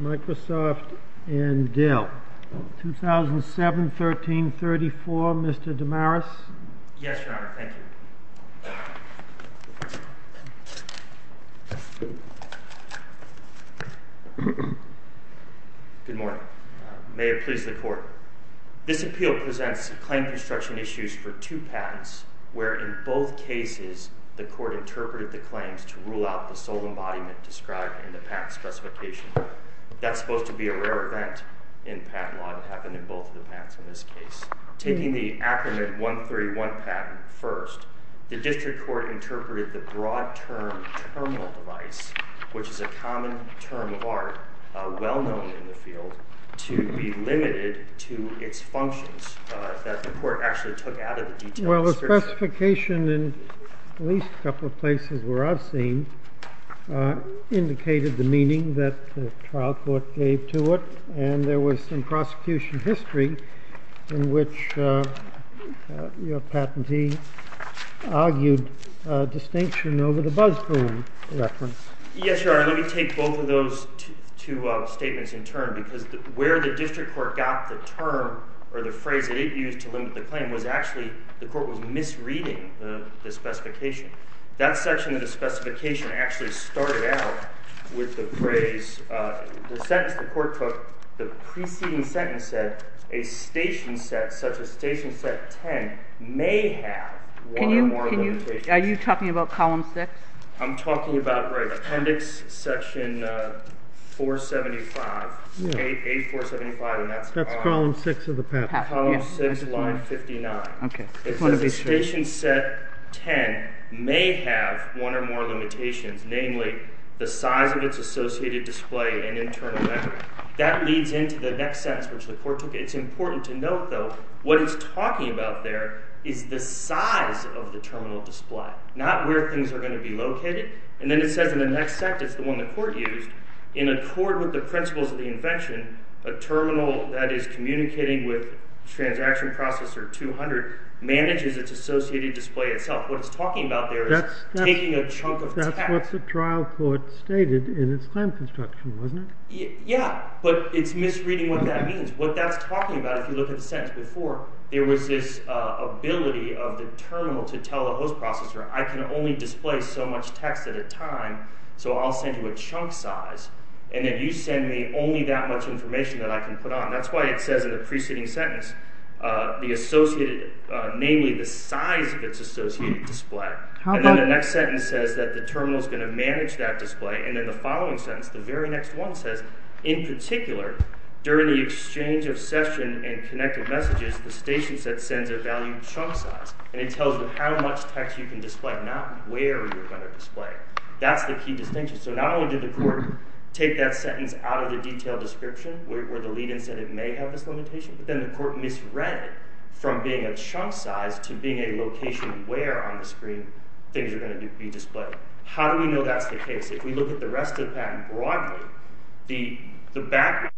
Microsoft and Dell, 2007-13-34, Mr. DeMaris. Yes, Your Honor. Thank you. Good morning. May it please the Court. This appeal presents claim construction issues for two patents, where in both cases the Court interpreted the claims to rule out the sole embodiment described in the patent specification. That's supposed to be a rare event in patent law that happened in both of the patents in this case. Taking the Acronym 131 patent first, the District Court interpreted the broad term terminal device, which is a common term of art well known in the field, to be limited to its functions that the Court actually took out of the detailed description. Well, the specification in at least a couple of places where I've seen indicated the meaning that the trial court gave to it. And there was some prosecution history in which your patentee argued distinction over the buzz boom reference. Yes, Your Honor. Let me take both of those two statements in turn, because where the District Court got the term or the phrase that it used to limit the claim was actually the Court was misreading the specification. That section of the specification actually started out with the phrase, the sentence the Court took, the preceding sentence said, a station set, such as Station Set 10, may have one or more limitations. Are you talking about Column 6? I'm talking about Appendix Section 475, 8475. That's Column 6 of the patent. Column 6, line 59. Okay. It says a Station Set 10 may have one or more limitations, namely, the size of its associated display and internal memory. That leads into the next sentence, which the Court took. It's important to note, though, what it's talking about there is the size of the terminal display, not where things are going to be located. And then it says in the next sentence, the one the Court used, in accord with the principles of the invention, a terminal that is communicating with transaction processor 200 manages its associated display itself. What it's talking about there is taking a chunk of text. That's what the trial court stated in its time construction, wasn't it? Yeah, but it's misreading what that means. What that's talking about, if you look at the sentence before, there was this ability of the terminal to tell the host processor, I can only display so much text at a time, so I'll send you a chunk size, and then you send me only that much information that I can put on. That's why it says in the preceding sentence, the associated, namely, the size of its associated display. And then the next sentence says that the terminal is going to manage that display, and then the following sentence, the very next one says, in particular, during the exchange of session and connected messages, the station sends a value chunk size, and it tells you how much text you can display, not where you're going to display it. That's the key distinction. So not only did the Court take that sentence out of the detailed description, where the lead-in said it may have this limitation, but then the Court misread it from being a display. How do we know that's the case? If we look at the rest of the patent broadly, the background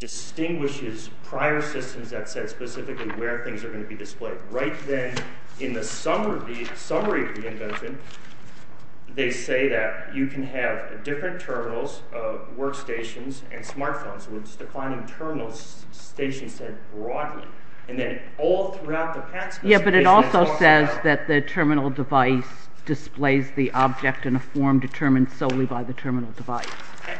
distinguishes prior systems that said specifically where things are going to be displayed. Right then, in the summary of the invention, they say that you can have different terminals, workstations, and smartphones, with declining terminal stations said broadly, and then all throughout the patent... Yeah, but it also says that the terminal device displays the object in a form determined solely by the terminal device.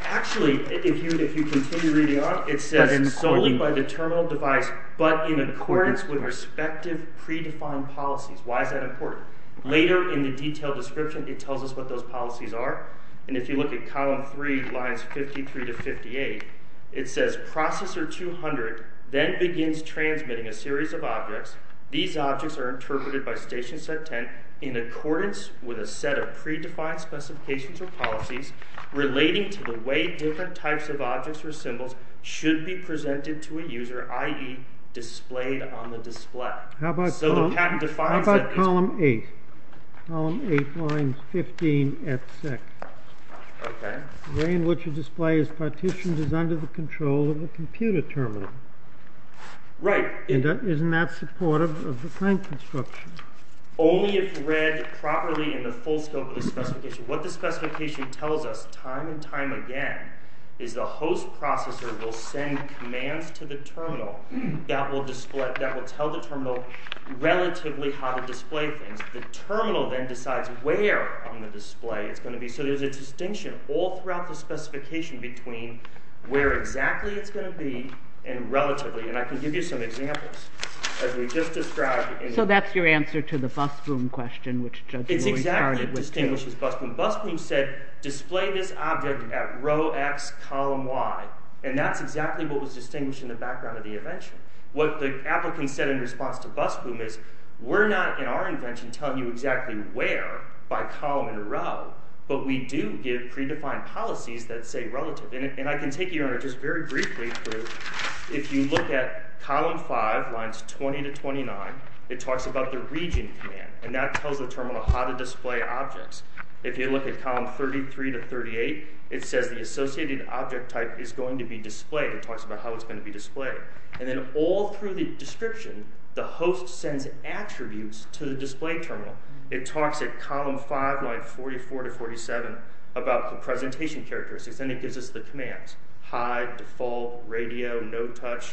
Actually, if you continue reading on, it says solely by the terminal device, but in accordance with respective predefined policies. Why is that important? Later in the detailed description, it tells us what those policies are, and if you look at column three, lines 53 to 58, it says, that Processor 200 then begins transmitting a series of objects. These objects are interpreted by Station Set 10 in accordance with a set of predefined specifications or policies relating to the way different types of objects or symbols should be presented to a user, i.e., displayed on the display. So the patent defines that... How about column eight? Column eight, lines Right. And isn't that supportive of the plant construction? Only if read properly in the full scope of the specification. What the specification tells us time and time again is the host processor will send commands to the terminal that will tell the terminal relatively how to display things. The terminal then decides where on the display it's going to be, so there's a distinction all throughout the specification between where exactly it's going to be and relatively, and I can give you some examples, as we just described. So that's your answer to the bus boom question, which Judge Lori started with. It's exactly what distinguishes bus boom. Bus boom said, display this object at row X, column Y, and that's exactly what was distinguished in the background of the invention. What the applicant said in response to bus boom is, we're not in our invention telling you exactly where by column and row, but we do give predefined policies that say relative. And I can take you on it just very briefly. If you look at column five, lines 20 to 29, it talks about the region command, and that tells the terminal how to display objects. If you look at column 33 to 38, it says the associated object type is going to be displayed. It talks about how it's going to be displayed. And then all through the description, the host sends attributes to the display terminal. It talks at column five, lines 44 to 47, about the presentation characteristics, and it gives us the commands. Hide, default, radio, no touch,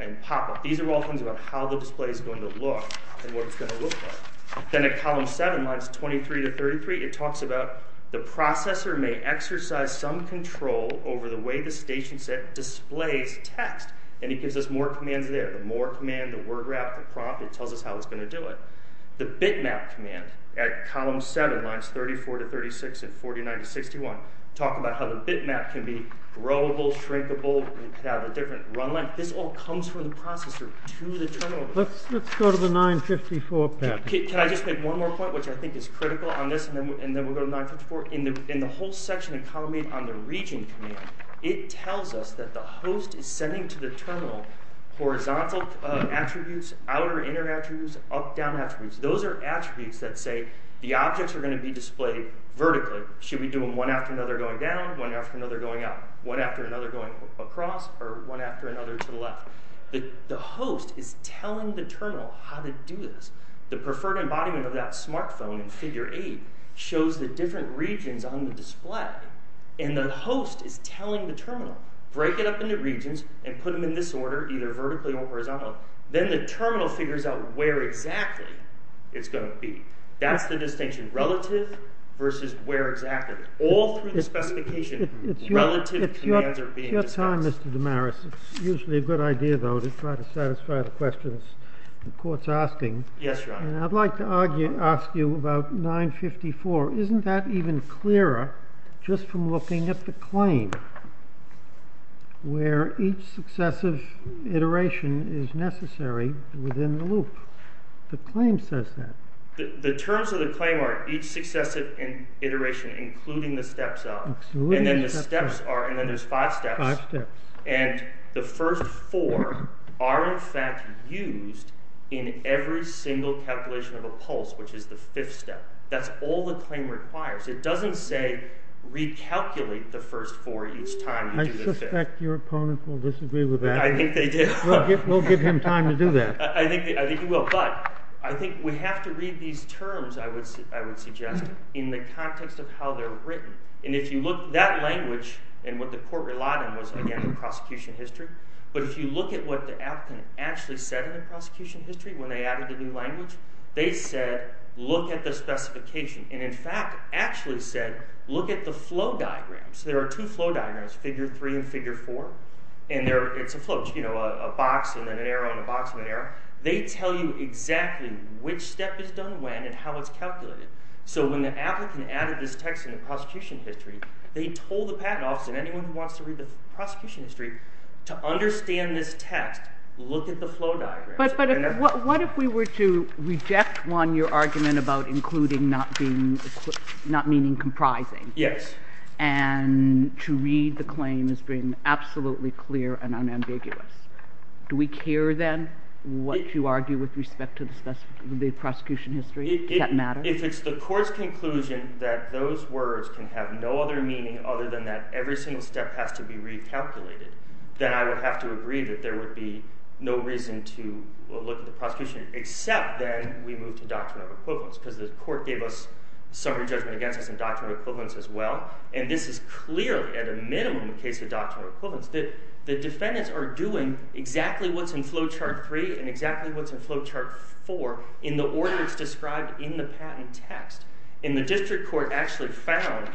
and pop-up. These are all things about how the display is going to look and what it's going to look like. Then at column seven, lines 23 to 33, it talks about the processor may exercise some control over the way the station set displays text, and it gives us more commands there. The more command, the word wrap, the prompt, it tells us how it's going to do it. The bitmap command at column seven, lines 34 to 36, and 49 to 61, talk about how the bitmap can be growable, shrinkable, have a different run length. This all comes from the processor to the terminal. Let's go to the 954 pattern. Can I just make one more point, which I think is critical on this, and then we'll go to 954? In the whole section of column eight on the region command, it tells us that the host is sending to the terminal horizontal attributes, outer, inner attributes, up, down attributes. Those are attributes that say the objects are going to be displayed vertically. Should we do them one after another going down, one after another going up, one after another going across, or one after another to the left? The host is telling the terminal how to do this. The preferred embodiment of that smartphone in figure eight shows the different regions on display, and the host is telling the terminal, break it up into regions and put them in this order, either vertically or horizontally. Then the terminal figures out where exactly it's going to be. That's the distinction, relative versus where exactly. All through the specification, relative commands are being dispensed. Your time, Mr. Damaris. It's usually a good idea, though, to try to satisfy the questions the court's asking. Yes, Your Honor. And I'd like to ask you about 954. Isn't that even clearer, just from looking at the claim, where each successive iteration is necessary within the loop? The claim says that. The terms of the claim are each successive iteration, including the steps up. Absolutely. And then the steps are, and then there's five steps. Five steps. And the first four are, in fact, used in every single calculation of a pulse, which is the fifth step. That's all the claim requires. It doesn't say recalculate the first four each time you do the fifth. I suspect your opponent will disagree with that. I think they do. We'll give him time to do that. I think he will. But I think we have to read these terms, I would suggest, in the context of how they're written. And if you look, that language, and what the court relied on was, again, the prosecution history. But if you look at what the applicant actually said in the prosecution history when they added the new language, they said, look at the specification. And in fact, actually said, look at the flow diagrams. There are two flow diagrams, figure three and figure four. And it's a flow, a box and then an arrow and a box and an arrow. They tell you exactly which step is done when and how it's calculated. So when the applicant added this text in the prosecution history, they told the patent office and anyone who wants to read the prosecution history, to understand this text, look at the flow diagrams. But what if we were to reject, one, your argument about including not meaning comprising. Yes. And to read the claim as being absolutely clear and unambiguous. Do we care, then, what you argue with respect to the prosecution history? Does that matter? If it's the court's conclusion that those words can have no other meaning other than that every single step has to be recalculated, then I would have to agree that there would be no reason to look at the prosecution, except then we move to doctrine of equivalence, because the court gave us summary judgment against us in doctrine of equivalence as well. And this is clearly, at a minimum, in the case of doctrine of equivalence, that the defendants are doing exactly what's in flow chart three and exactly what's in flow chart four in the order it's described in the patent text. And the district court actually found,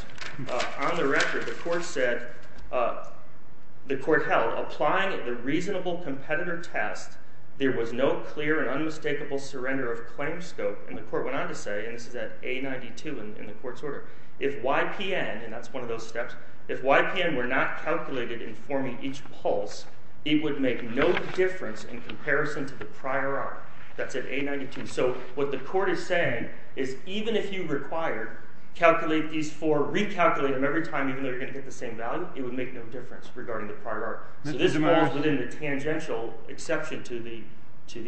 on the record, the court said, the court held, applying the reasonable competitor test, there was no clear and unmistakable surrender of claim scope, and the court went on to say, and this is at A92 in the court's order, if YPN, and that's one of those steps, if YPN were not calculated in forming each pulse, it would make no difference in comparison to the prior art. That's at A92. So what the court is saying is, even if you require, calculate these four, recalculate them every time even though they're going to hit the same value, it would make no difference regarding the prior art. So this falls within the tangential exception to the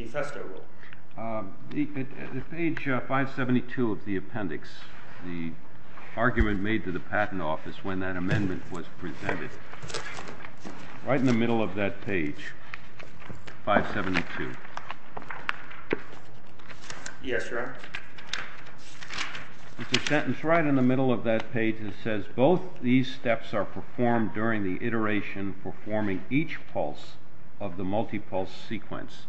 Festo rule. At page 572 of the appendix, the argument made to the patent office when that amendment was presented, right in the middle of that page, 572. Yes, Your Honor. There's a sentence right in the middle of that page that says, both these steps are performed during the iteration performing each pulse of the multipulse sequence.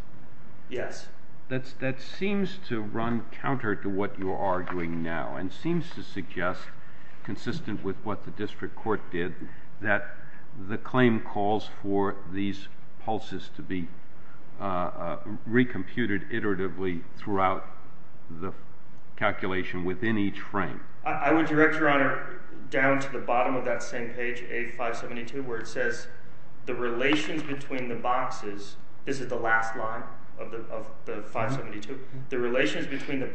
Yes. That seems to run counter to what you are doing now and seems to suggest, consistent with what the district court did, that the claim calls for these pulses to be recomputed iteratively throughout the calculation within each frame. I would direct, Your Honor, down to the bottom of that same page, A572, where it says, the relations between the boxes, this is the last line of the 572, the relations between the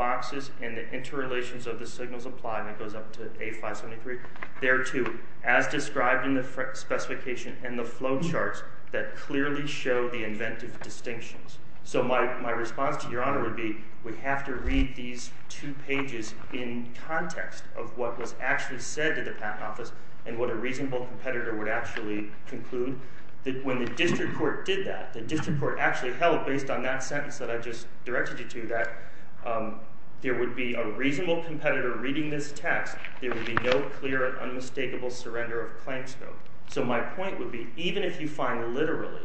as described in the specification and the flow charts that clearly show the inventive distinctions. So my response to Your Honor would be, we have to read these two pages in context of what was actually said to the patent office and what a reasonable competitor would actually conclude. When the district court did that, the district court actually held, based on that sentence that I just directed you to, that there would be a reasonable competitor reading this text. There would be no clear and unmistakable surrender of claim scope. So my point would be, even if you find literally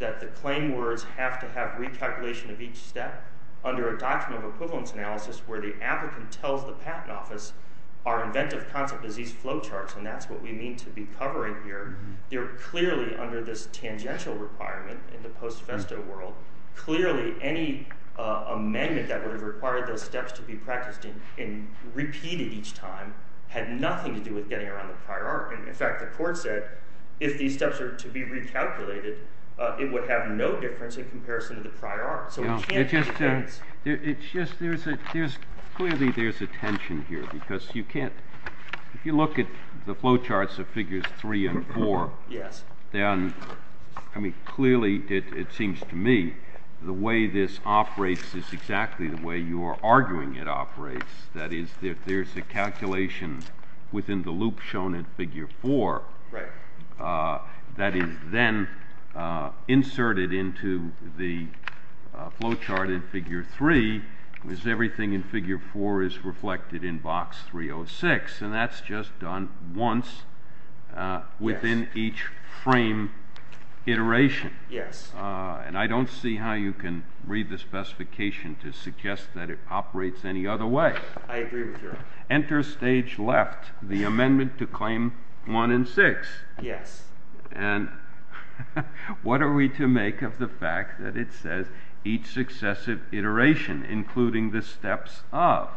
that the claim words have to have recalculation of each step under a document of equivalence analysis where the applicant tells the patent office, our inventive concept is these flow charts and that's what we mean to be covering here. They're clearly under this tangential requirement in the post-sophesto world. Clearly, any amendment that would have required those steps to be practiced and repeated each time had nothing to do with getting around the prior art. In fact, the court said, if these steps are to be recalculated, it would have no difference in comparison to the prior art. So we can't make a difference. It's just, clearly there's a tension here because you can't, if you look at the flow charts of figures three and four, clearly it seems to me the way this operates is exactly the way you are arguing it operates. That is, if there's a calculation within the loop shown in figure four, that is then inserted into the flow chart in figure three, is everything in figure four is reflected in box 306. And that's just done once within each frame iteration. And I don't see how you can read the specification to suggest that it operates any other way. I agree with you. Enter stage left, the amendment to claim one and six. Yes. And what are we to make of the fact that it says each successive iteration, including the steps of?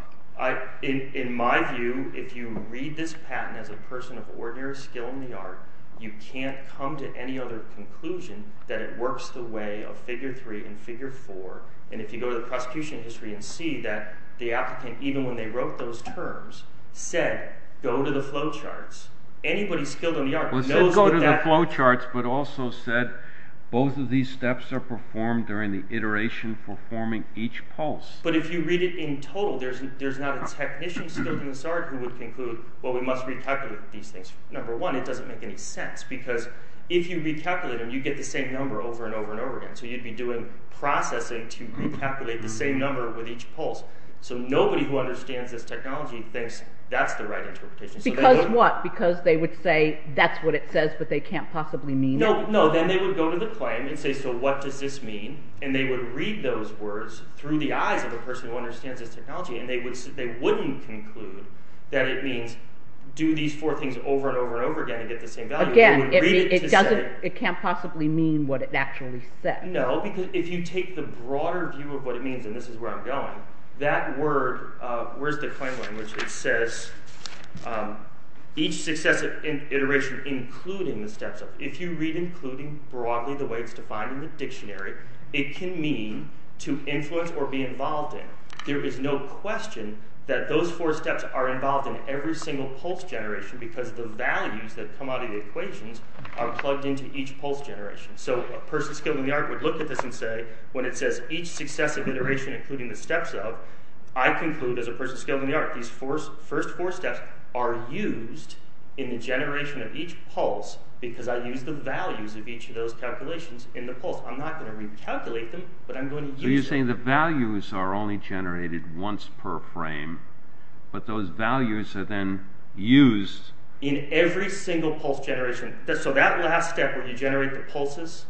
In my view, if you read this patent as a person of ordinary skill in the art, you can't come to any other conclusion that it works the way of figure three and figure four. And if you go to the prosecution history and see that the applicant, even when they wrote those terms, said, go to the flow charts. Anybody skilled in the art knows that that. Well, it said go to the flow charts, but also said both of these steps are performed during the iteration for forming each pulse. But if you read it in total, there's not a technician skilled in this art who would conclude, well, we must recalculate these things. Number one, it doesn't make any sense because if you recalculate them, you get the same number over and over and over again. So you'd be doing processing to recalculate the same number with each pulse. So nobody who understands this technology thinks that's the right interpretation. Because what? Because they would say that's what it says, but they can't possibly mean it? No, no. Then they would go to the claim and say, so what does this mean? And they would read those words through the eyes of a person who understands this technology and they wouldn't conclude that it means do these four things over and over and over again and get the same value. Again, it can't possibly mean what it actually says. No, because if you take the broader view of what it means, and this is where I'm going, that word, where's the claim language, it says each successive iteration including the steps up. If you read including broadly the way it's defined in the dictionary, it can mean to influence or be involved in. There is no question that those four steps are involved in every single pulse generation because the values that come out of the equations are plugged into each pulse generation. So a person skilled in the art would look at this and say, when it says each successive iteration including the steps up, I conclude as a person skilled in the art, these first four steps are used in the generation of each pulse because I used the values of each of those calculations in the pulse. I'm not going to recalculate them, but I'm going to use them. The values are only generated once per frame, but those values are then used in every single pulse generation. So that last step where you generate the pulses,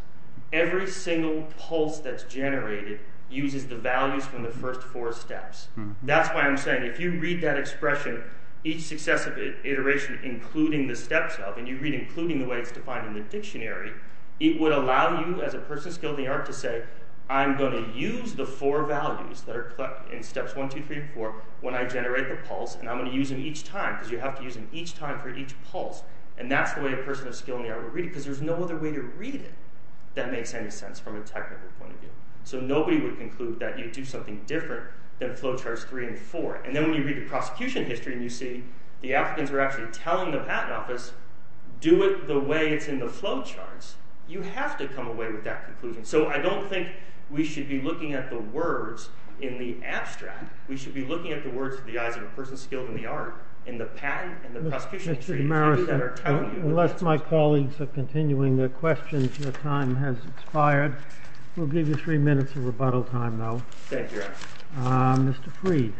every single pulse that's generated uses the values from the first four steps. That's why I'm saying if you read that expression, each successive iteration including the steps up, and you read including the way it's defined in the dictionary, it would allow you as a person skilled in the art to say, I'm going to use the four values that are in steps one, two, three, four when I generate the pulse, and I'm going to use them each time because you have to use them each time for each pulse. And that's the way a person of skill in the art would read it because there's no other way to read it that makes any sense from a technical point of view. So nobody would conclude that you do something different than flowcharts three and four. And then when you read the prosecution history and you see the Africans were actually telling the patent office, do it the way it's in the flowcharts. You have to come away with that conclusion. So I don't think we should be looking at the words in the abstract. We should be looking at the words to the eyes of a person skilled in the art in the patent and the prosecution history. Mr. DeMaris, unless my colleagues are continuing their questions, your time has expired. We'll give you three minutes of rebuttal time, though. Thank you, Your Honor. Mr. Freed.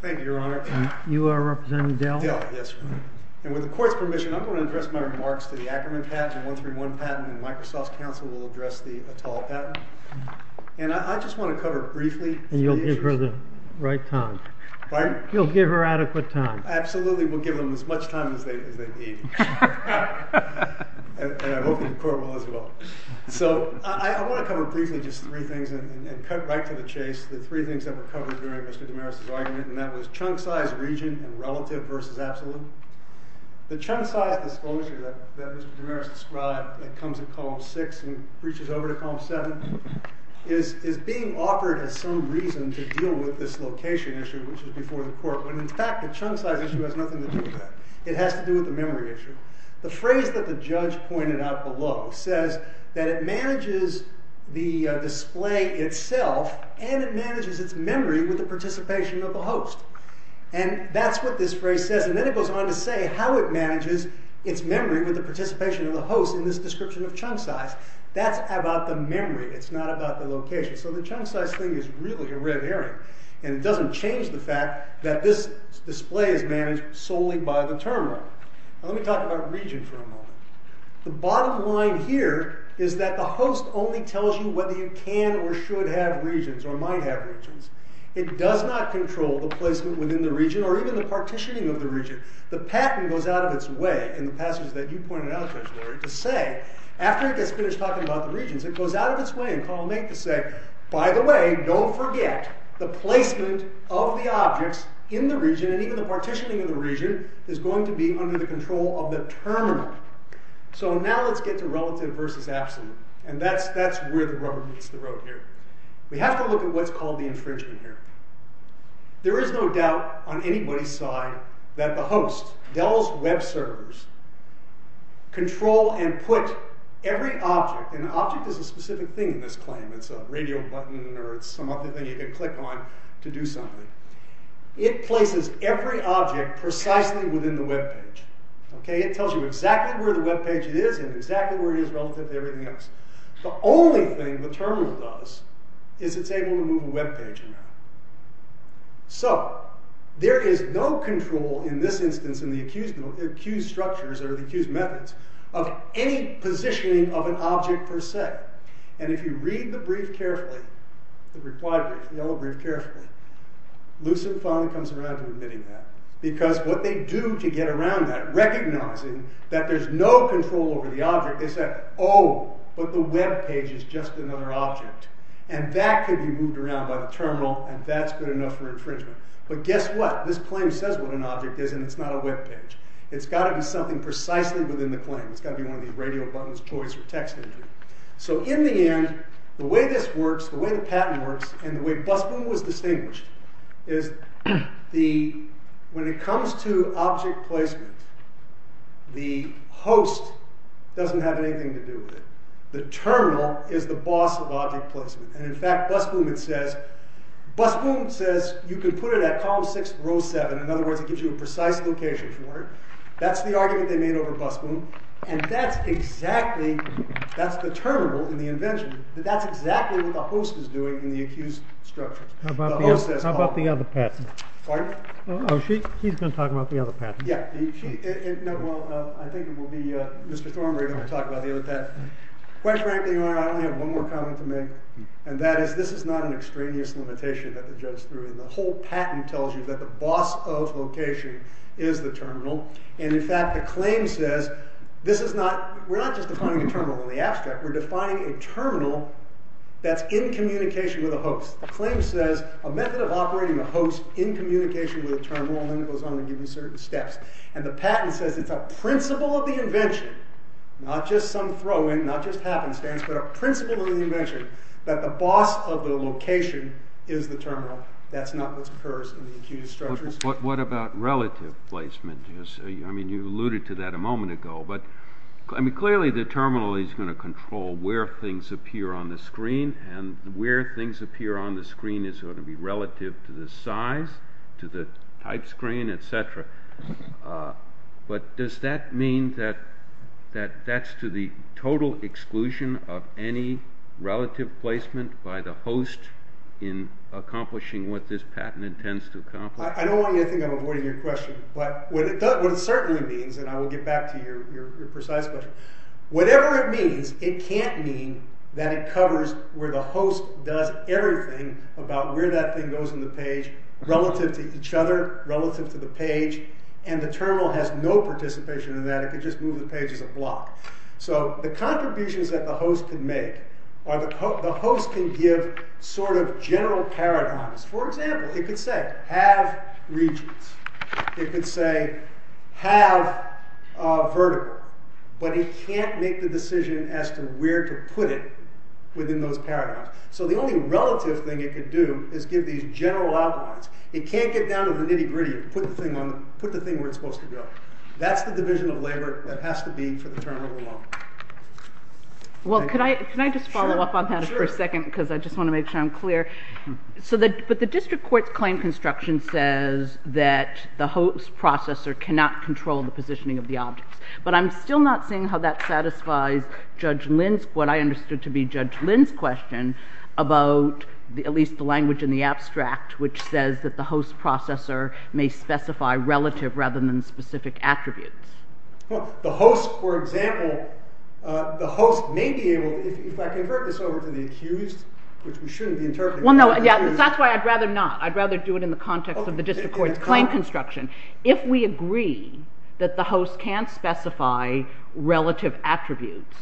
Thank you, Your Honor. You are representing Dill? Dill, yes. And with the court's permission, I'm going to address my remarks to the Ackerman patent and 131 patent, and Microsoft's counsel will address the Atal patent. And I just want to cover briefly some of the issues. And you'll give her the right time. Pardon? You'll give her adequate time. Absolutely. We'll give them as much time as they need. And I hope the court will as well. So I want to cover briefly just three things and cut right to the chase. The three things that were covered during Mr. DeMaris' argument, and that was chunk size region and relative versus absolute. The chunk size disclosure that Mr. DeMaris described that comes in column six and reaches over to column seven is being offered as some reason to deal with this location issue, which is before the court. But in fact, the chunk size issue has nothing to do with that. It has to do with the memory issue. The phrase that the judge pointed out below says that it manages the display itself, and it manages its memory with the participation of the host. And that's what this phrase says. And then it goes on to say how it manages its memory with the participation of the host in this description of chunk size. That's about the memory. It's not about the location. So the chunk size thing is really a red herring. And it doesn't change the fact that this display is managed solely by the term runner. Now let me talk about region for a moment. The bottom line here is that the host only tells you whether you can or should have regions or might have regions. It does not control the placement within the region or even the partitioning of the region. The patent goes out of its way in the passage that you pointed out, Judge Lurie, to say after it gets finished talking about the regions, it goes out of its way in column eight to say, by the way, don't forget the placement of the objects in the region and even the partitioning of the region is going to be under the control of the term runner. So now let's get to relative versus absolute. And that's where the rubber meets the road here. We have to look at what's called the infringement here. There is no doubt on anybody's side that the host, Dell's web servers, control and put every object, and the object is a specific thing in this claim. It's a radio button or it's some other thing you can click on to do something. It places every object precisely within the web page. It tells you exactly where the web page is and exactly where it is relative to everything else. The only thing the terminal does is it's able to move a web page around. So there is no control in this instance in the accused structures or the accused methods of any positioning of an object per se. And if you read the brief carefully, the reply brief, the yellow brief carefully, Lucent finally comes around to admitting that. Because what they do to get around that, recognizing that there's no control over the object, they say, oh, but the web page is just another object. And that could be moved around by the terminal and that's good enough for infringement. But guess what? This claim says what an object is and it's not a web page. It's got to be something precisely within the claim. It's got to be one of these radio buttons, toys, or text entry. So in the end, the way this works, the way the patent works, and the way Busboom was The terminal is the boss of object placement. And in fact, Busboom says you can put it at column six, row seven. In other words, it gives you a precise location for it. That's the argument they made over Busboom. And that's exactly, that's the terminal in the invention. That's exactly what the host is doing in the accused structure. The host says column one. How about the other patent? Pardon? Oh, he's going to talk about the other patent. Yeah. No, well, I think it will be Mr. Thornberry that will talk about the other patent. Quite frankly, I only have one more comment to make. And that is this is not an extraneous limitation that the judge threw in. The whole patent tells you that the boss of location is the terminal. And in fact, the claim says this is not, we're not just defining a terminal in the abstract. We're defining a terminal that's in communication with a host. The claim says a method of operating a host in communication with a terminal then it goes on to give you certain steps. And the patent says it's a principle of the invention, not just some throw in, not just happenstance, but a principle of the invention, that the boss of the location is the terminal. That's not what occurs in the accused structures. What about relative placement? I mean, you alluded to that a moment ago. But, I mean, clearly the terminal is going to control where things appear on the screen. And where things appear on the screen is going to be relative to the size, to the type screen, etc. But does that mean that that's to the total exclusion of any relative placement by the host in accomplishing what this patent intends to accomplish? I don't want you to think I'm avoiding your question. But what it certainly means, and I will get back to your precise question. Whatever it means, it can't mean that it covers where the host does everything about where that thing goes on the page relative to each other, relative to the page. And the terminal has no participation in that. It could just move the pages a block. So the contributions that the host can make are the host can give sort of general paradigms. For example, it could say, have regions. It could say, have vertical. But it can't make the decision as to where to put it within those paradigms. So the only relative thing it could do is give these general outlines. It can't get down to the nitty-gritty and put the thing where it's supposed to go. That's the division of labor that has to be for the terminal alone. Well, can I just follow up on that for a second? Because I just want to make sure I'm clear. But the district court's claim construction says that the host processor cannot control the positioning of the objects. But I'm still not seeing how that satisfies Judge Linsk, what I understood to be Judge Linsk's question, about at least the language in the abstract, which says that the host processor may specify relative rather than specific attributes. The host, for example, the host may be able, if I convert this over to the accused, which we shouldn't be interpreting. Well, no, that's why I'd rather not. I'd rather do it in the context of the district court's claim construction. If we agree that the host can't specify relative attributes,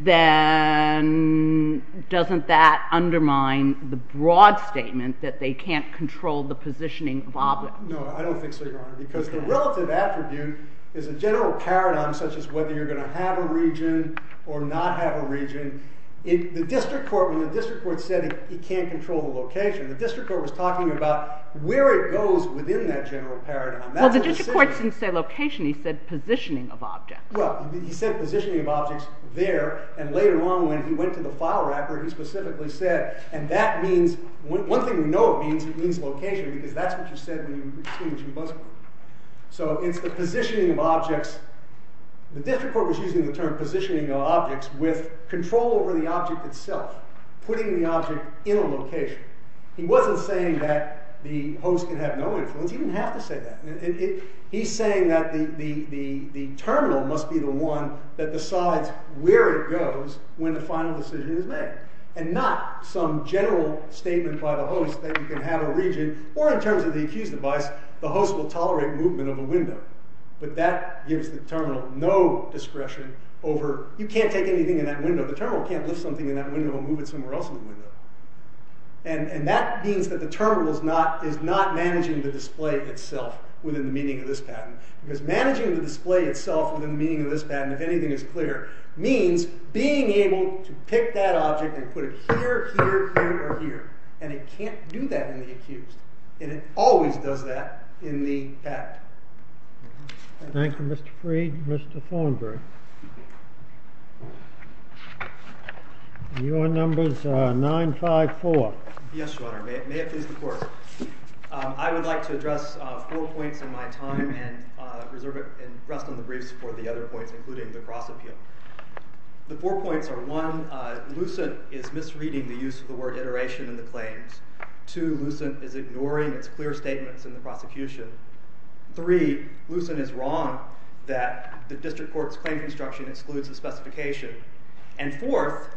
then doesn't that undermine the broad statement that they can't control the positioning of objects? No, I don't think so, Your Honor, because the relative attribute is a general paradigm, such as whether you're going to have a region or not have a region. When the district court said it can't control the location, the district court was talking about where it goes within that general paradigm. Well, the district court didn't say location. He said positioning of objects. Well, he said positioning of objects there, and later on when he went to the file wrapper, he specifically said, and that means, one thing we know it means, it means location, because that's what you said when you were extinguishing Buzzard. So it's the positioning of objects. The district court was using the term positioning of objects with control over the object itself, putting the object in a location. He wasn't saying that the host can have no influence. He didn't have to say that. He's saying that the terminal must be the one that decides where it goes when the final decision is made, and not some general statement by the host that you can have a region, or in terms of the accused device, the host will tolerate movement of a window, but that gives the terminal no discretion over, you can't take anything in that window. The terminal can't lift something in that window and move it somewhere else in the window. And that means that the terminal is not managing the display itself within the meaning of this patent, because managing the display itself within the meaning of this patent, if anything is clear, means being able to pick that object and put it here, here, here, or here, and it can't do that in the accused, and it always does that in the patent. Thank you, Mr. Freed. Mr. Thornberry. Your number is 954. Yes, Your Honor. May it please the Court. I would like to address four points in my time and rest on the briefs for the other points, including the cross-appeal. The four points are, one, Lucent is misreading the use of the word iteration in the claims. Two, Lucent is ignoring its clear statements in the prosecution. Three, Lucent is wrong that the district court's claim construction excludes the specification. And fourth,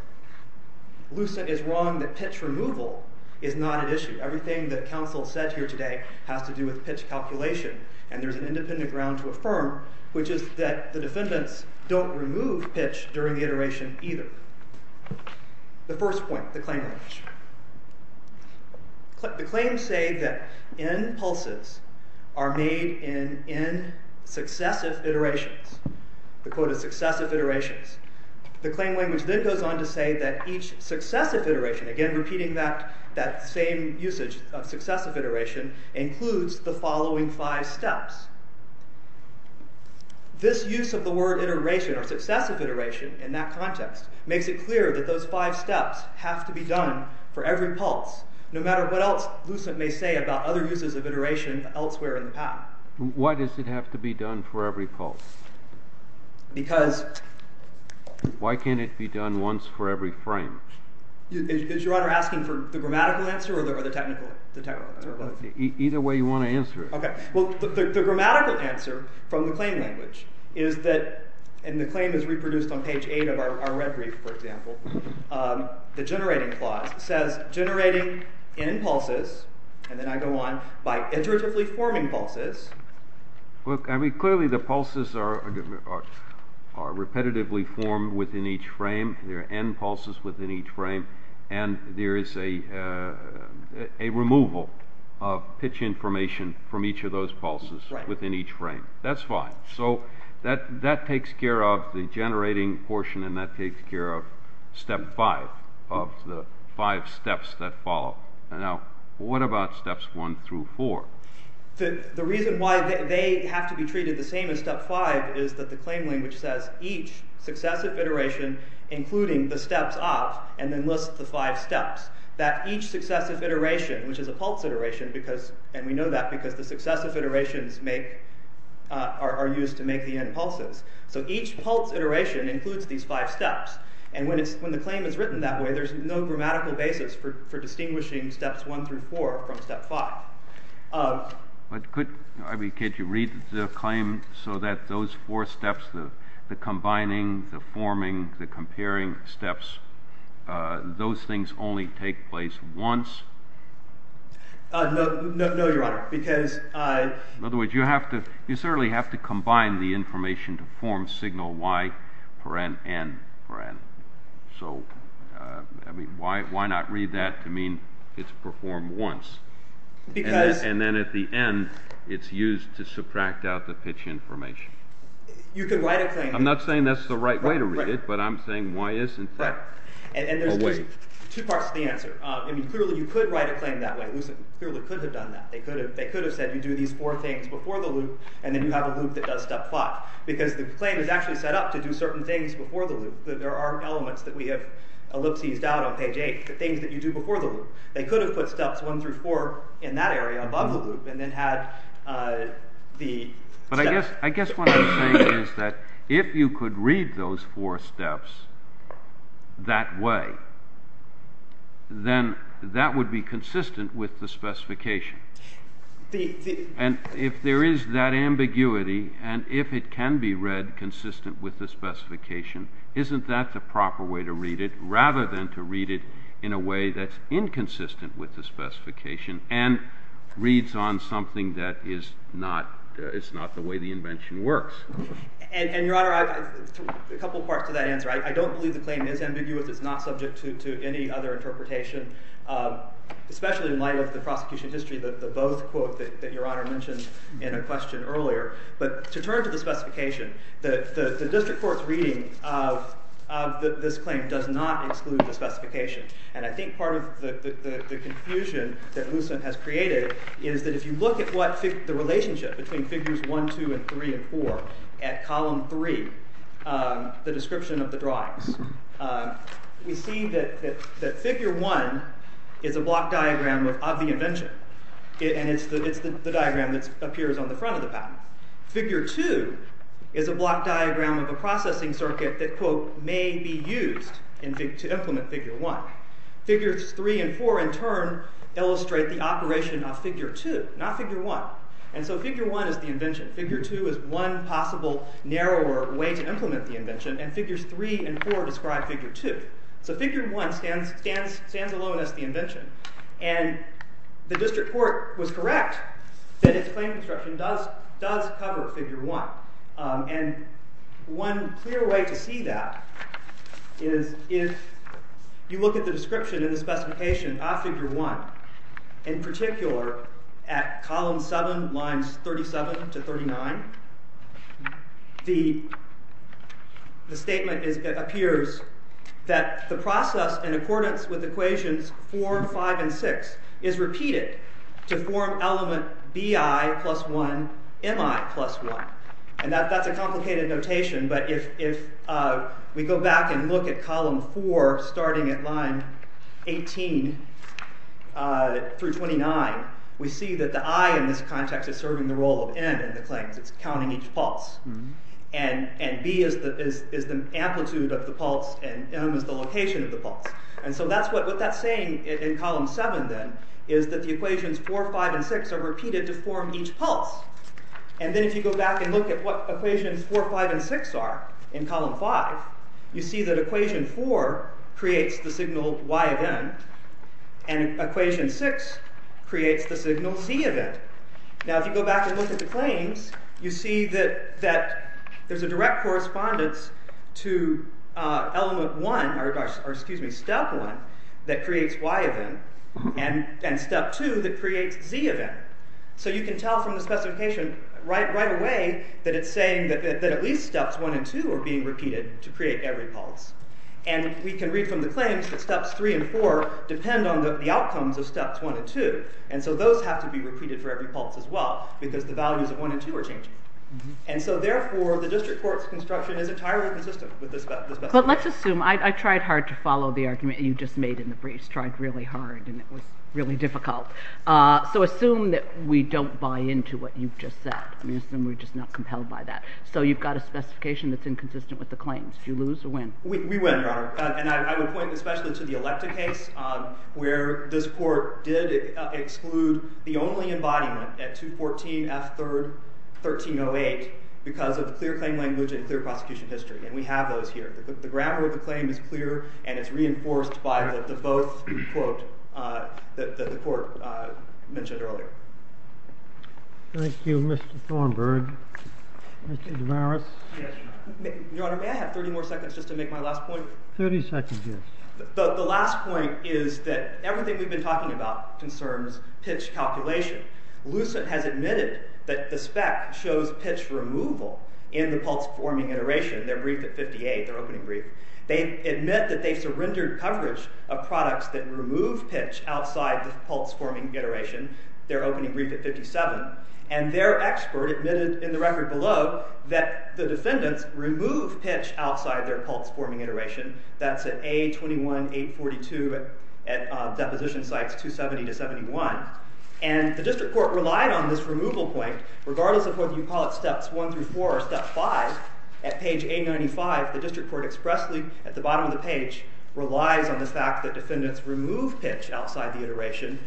Lucent is wrong that pitch removal is not at issue. Everything that counsel said here today has to do with pitch calculation, and there's an independent ground to affirm, which is that the defendants don't remove pitch during the iteration either. The first point, the claim range. The claims say that in pulses, are made in successive iterations. The quote is, successive iterations. The claim language then goes on to say that each successive iteration, again repeating that same usage of successive iteration, includes the following five steps. This use of the word iteration, or successive iteration, in that context, makes it clear that those five steps have to be done for every pulse. No matter what else Lucent may say about other uses of iteration elsewhere in the path. Why does it have to be done for every pulse? Because... Why can't it be done once for every frame? Is Your Honor asking for the grammatical answer, or the technical answer? Either way you want to answer it. Well, the grammatical answer from the claim language is that, and the claim is reproduced on page 8 of our red brief, for example, the generating clause says, generating n pulses, and then I go on, by iteratively forming pulses. Look, I mean, clearly the pulses are are repetitively formed within each frame, there are n pulses within each frame, and there is a a removal of pitch information from each of those pulses within each frame. That's fine. So, that takes care of the generating portion, and that takes care of step 5, of the 5 steps that follow. Now, what about steps 1 through 4? The reason why they have to be treated the same as step 5 is that the claim language says, each successive iteration, including the steps of, and then lists the 5 steps. That each successive iteration, which is a pulse iteration, and we know that because the successive iterations are used to make the n pulses. So each pulse iteration includes these 5 steps. And when the claim is written that way, there's no grammatical basis for distinguishing steps 1 through 4 from step 5. But could you read the claim so that those 4 steps, the combining, the forming, the comparing steps, those things only take place once? No, your honor, because... In other words, you have to, you certainly have to combine the information to form signal y, paren, and paren. So, I mean, why not read that to mean it's performed once? And then at the end, it's used to subtract out the pitch information. You could write a claim... I'm not saying that's the right way to read it, but I'm saying why isn't that... And there's two parts to the answer. I mean, clearly you could write a claim that way. Lucent clearly could have done that. They could have said you do these 4 things before the loop, and then you have a loop that does step 5. Because the claim is actually set up to do certain things before the loop. There are elements that we have ellipses out on page 8, the things that you do before the loop. They could have put steps 1 through 4 in that area, above the loop, and then had the... But I guess what I'm saying is that if you could read those 4 steps that way, then that would be consistent with the specification. And if there is that ambiguity, and if it can be read consistent with the specification, isn't that the proper way to read it, rather than to read it in a way that's inconsistent with the specification and reads on something that is not... It's not the way the invention works. And, Your Honor, a couple parts to that answer. I don't believe the claim is ambiguous. It's not subject to any other interpretation, especially in light of the prosecution history and the both quote that Your Honor mentioned in a question earlier. But to turn to the specification, the district court's reading of this claim does not exclude the specification. And I think part of the confusion that Lucent has created is that if you look at the relationship between figures 1, 2, 3, and 4 at column 3, the description of the drawings, we see that figure 1 is a block diagram of the invention. And it's the diagram that appears on the front of the patent. Figure 2 is a block diagram of a processing circuit that quote may be used to implement figure 1. Figures 3 and 4 in turn illustrate the operation of figure 2, not figure 1. And so figure 1 is the invention. Figure 2 is one possible narrower way to implement the invention, and figures 3 and 4 describe figure 2. So figure 1 stands alone as the invention. And the district court was correct that its claim construction does cover figure 1. And one clear way to see that is if you look at the description in the specification of figure 1, in particular at column 7, lines 37 to 39, the statement appears that the process in accordance with equations 4, 5, and 6 is repeated to form element Bi plus 1 Mi plus 1. And that's a complicated notation, but if we go back and look at column 4 starting at line 18 through 29, we see that the I in this context is serving the role of N in the claims. It's counting each pulse. And B is the amplitude of the pulse and M is the location of the pulse. And so what that's saying in column 7 then is that the equations 4, 5, and 6 are repeated to form each pulse. And then if you go back and look at what equations 4, 5, and 6 are in column 5, you see that equation 4 creates the signal Y of N, and equation 6 creates the signal C of N. Now if you go back and look at the claims, you see that there's a direct correspondence to element 1, or excuse me, step 1, that creates Y of N, and step 2 that creates Z of N. So you can tell from the specification right away that it's saying that at least steps 1 and 2 are being repeated to create every pulse. And we can read from the claims that steps 3 and 4 depend on the outcomes of steps 1 and 2, and so those have to be repeated for every pulse as well because the values of 1 and 2 are changing. And so therefore the district court's construction is entirely consistent with this specification. But let's assume, I tried hard to follow the argument you just made in the briefs, tried really hard and it was really difficult. So assume that we don't buy into what you've just said. I mean, assume we're just not compelled by that. So you've got a specification that's inconsistent with the claims. Do you lose or win? We win, Your Honor. And I would point especially to the Electa case where this court did exclude the only embodiment at 214 F. 3rd. 1308 because of clear claim language and clear prosecution history. And we have those here. The grammar of the claim is clear and it's reinforced by the both quote that the court mentioned earlier. Thank you, Mr. Thornburg. Mr. DeMaris. Your Honor, may I have 30 more seconds just to make my last point? 30 seconds, yes. The last point is that everything we've been talking about concerns pitch calculation. Lucent has admitted that the spec shows pitch removal in the pulse-forming iteration. Their brief at 58, their opening brief. They admit that they've surrendered coverage of products that remove pitch outside the pulse-forming iteration, their opening brief at 57. And their expert admitted in the record below that the defendants remove pitch outside their pulse-forming iteration. That's at A. 21. 842 at deposition sites 270 to 71. And the district court relied on this removal point regardless of whether you call it steps 1 through 4 or step 5, at page 895, the district court expressly at the bottom of the page relies on the fact that defendants remove pitch outside the iteration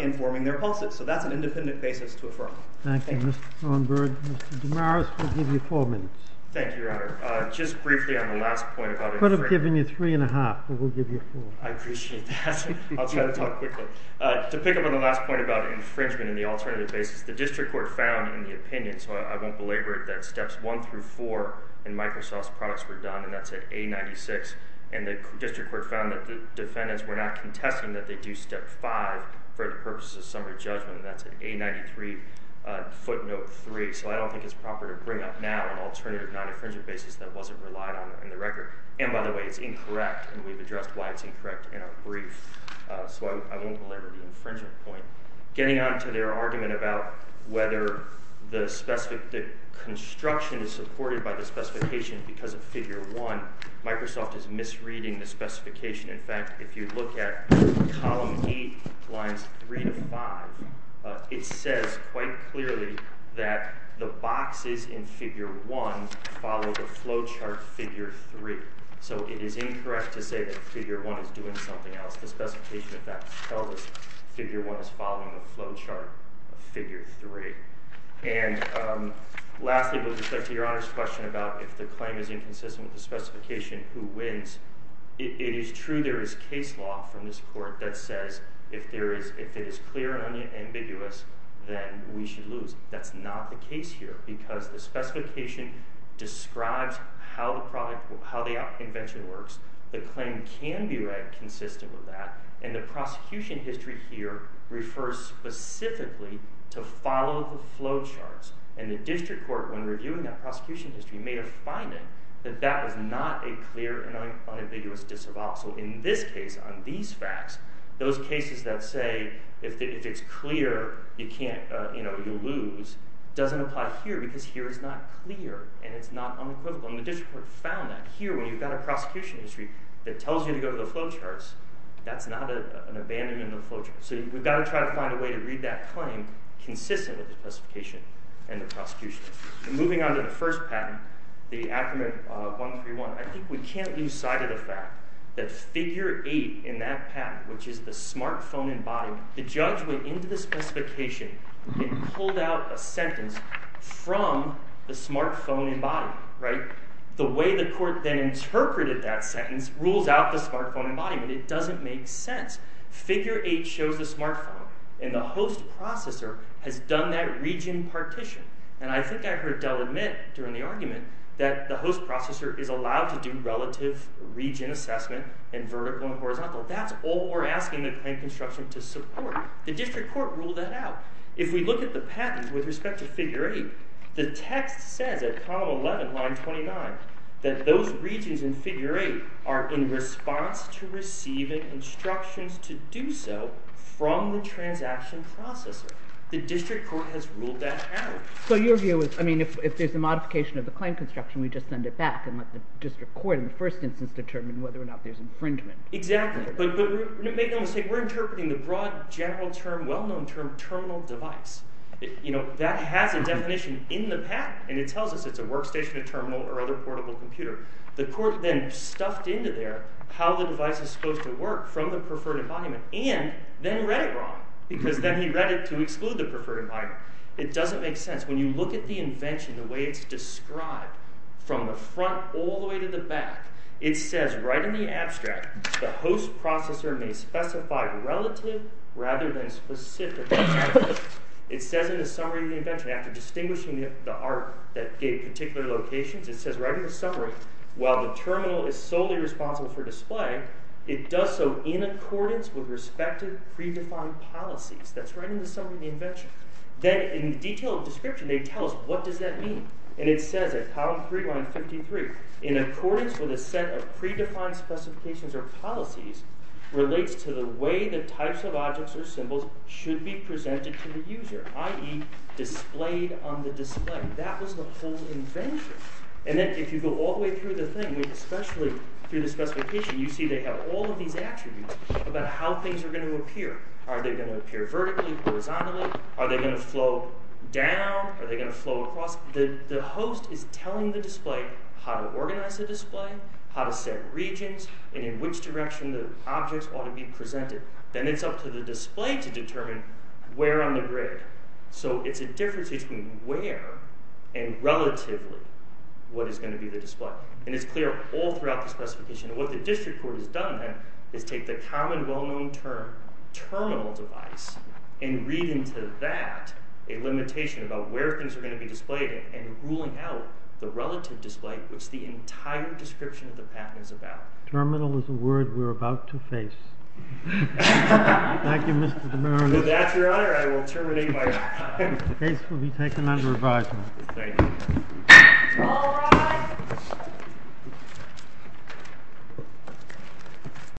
in forming their pulses. So that's an independent basis to affirm. Thank you, Mr. Thornburg. Mr. DeMaris, we'll give you four minutes. Thank you, Your Honor. Just briefly on the last point about infringement. Could have given you three and a half, but we'll give you four. I appreciate that. I'll try to talk quickly. To pick up on the last point about infringement and the alternative basis, the district court found in the opinion, so I won't belabor it, that steps 1 through 4 in Microsoft's products were done, and that's at A. 96. And the district court found that the defendants were not contesting that they do step 5 for the purposes of summary judgment, and that's at A. 93, footnote 3. So I don't think it's proper to bring up now an alternative non-infringement basis that wasn't relied on in the record. And by the way, it's incorrect, and we've addressed why it's incorrect in a brief. So I won't belabor the infringement point. Getting on to their argument about whether the construction is supported by the specification because of figure 1, Microsoft is misreading the specification. In fact, if you look at column 8, lines 3 to 5, it says quite clearly that the boxes in figure 1 follow the flowchart figure 3. So it is incorrect to say that figure 1 is doing something else. The specification, in fact, tells us figure 1 is following the flowchart of figure 3. And lastly, with respect to Your Honor's question about if the claim is inconsistent with the specification, who wins, it is true there is case law from this court that says if it is clear and unambiguous, then we should lose. That's not the case here because the specification describes how the invention works. The claim can be read consistent with that. And the prosecution history here refers specifically to follow the flowcharts. And the district court, when reviewing that prosecution history, made a finding that that was not a clear and unambiguous disavowal. So in this case, on these facts, those cases that say if it's clear, you lose, doesn't apply here because here it's not clear and it's not unequivocal. And the district court found that here when you've got a prosecution history that tells you to go to the flowcharts, that's not an abandonment of flowcharts. So we've got to try to find a way to read that claim consistent with the specification and the prosecution history. Moving on to the first patent, the Acumen 131, I think we can't lose sight of the fact that figure 8 in that patent, which is the smartphone embodied, the judge went into the specification and pulled out a sentence from the smartphone embodied. The way the court then interpreted that sentence rules out the smartphone embodied. It doesn't make sense. Figure 8 shows the smartphone and the host processor has done that region partition. And I think I heard Dell admit during the argument that the host processor is allowed to do relative region assessment and vertical and horizontal. That's all we're asking the claim construction to support. The district court ruled that out. If we look at the patent with respect to figure 8, the text says at column 11, line 29, that those regions in figure 8 are in response to receiving instructions to do so from the transaction processor. The district court has ruled that out. So your view is, I mean, if there's a modification of the claim construction, we just send it back and let the district court in the first instance determine whether or not there's infringement. Exactly. But make no mistake, we're interpreting the broad general term, well-known term, terminal device. You know, that has a definition in the patent, and it tells us it's a workstation, a terminal, or other portable computer. The court then stuffed into there how the device is supposed to work from the preferred environment and then read it wrong because then he read it to exclude the preferred environment. It doesn't make sense. When you look at the invention, the way it's described, from the front all the way to the back, it says right in the abstract, the host processor may specify relative rather than specific. It says in the summary of the invention, after distinguishing the art that gave particular locations, it says right in the summary, while the terminal is solely responsible for display, it does so in accordance with respective predefined policies. That's right in the summary of the invention. Then in the detailed description, they tell us what does that mean. And it says at column three, line 53, in accordance with a set of predefined specifications or policies relates to the way the types of objects or symbols should be presented to the user, i.e. displayed on the display. That was the whole invention. And then if you go all the way through the thing, especially through the specification, you see they have all of these attributes about how things are going to appear. Are they going to appear vertically, horizontally? Are they going to flow down? Are they going to flow across? The host is telling the display how to organize the display, how to set regions, and in which direction the objects ought to be presented. Then it's up to the display to determine where on the grid. So it's a difference between where and relatively what is going to be the display. And it's clear all throughout the specification. And what the district court has done then is take the common well-known term, terminal device, and read into that a limitation about where things are going to be displayed and ruling out the relative display, which the entire description of the patent is about. Terminal is a word we're about to face. Thank you, Mr. DeMaria. With that, Your Honor, I will terminate my time. The case will be taken under advisement. Thank you.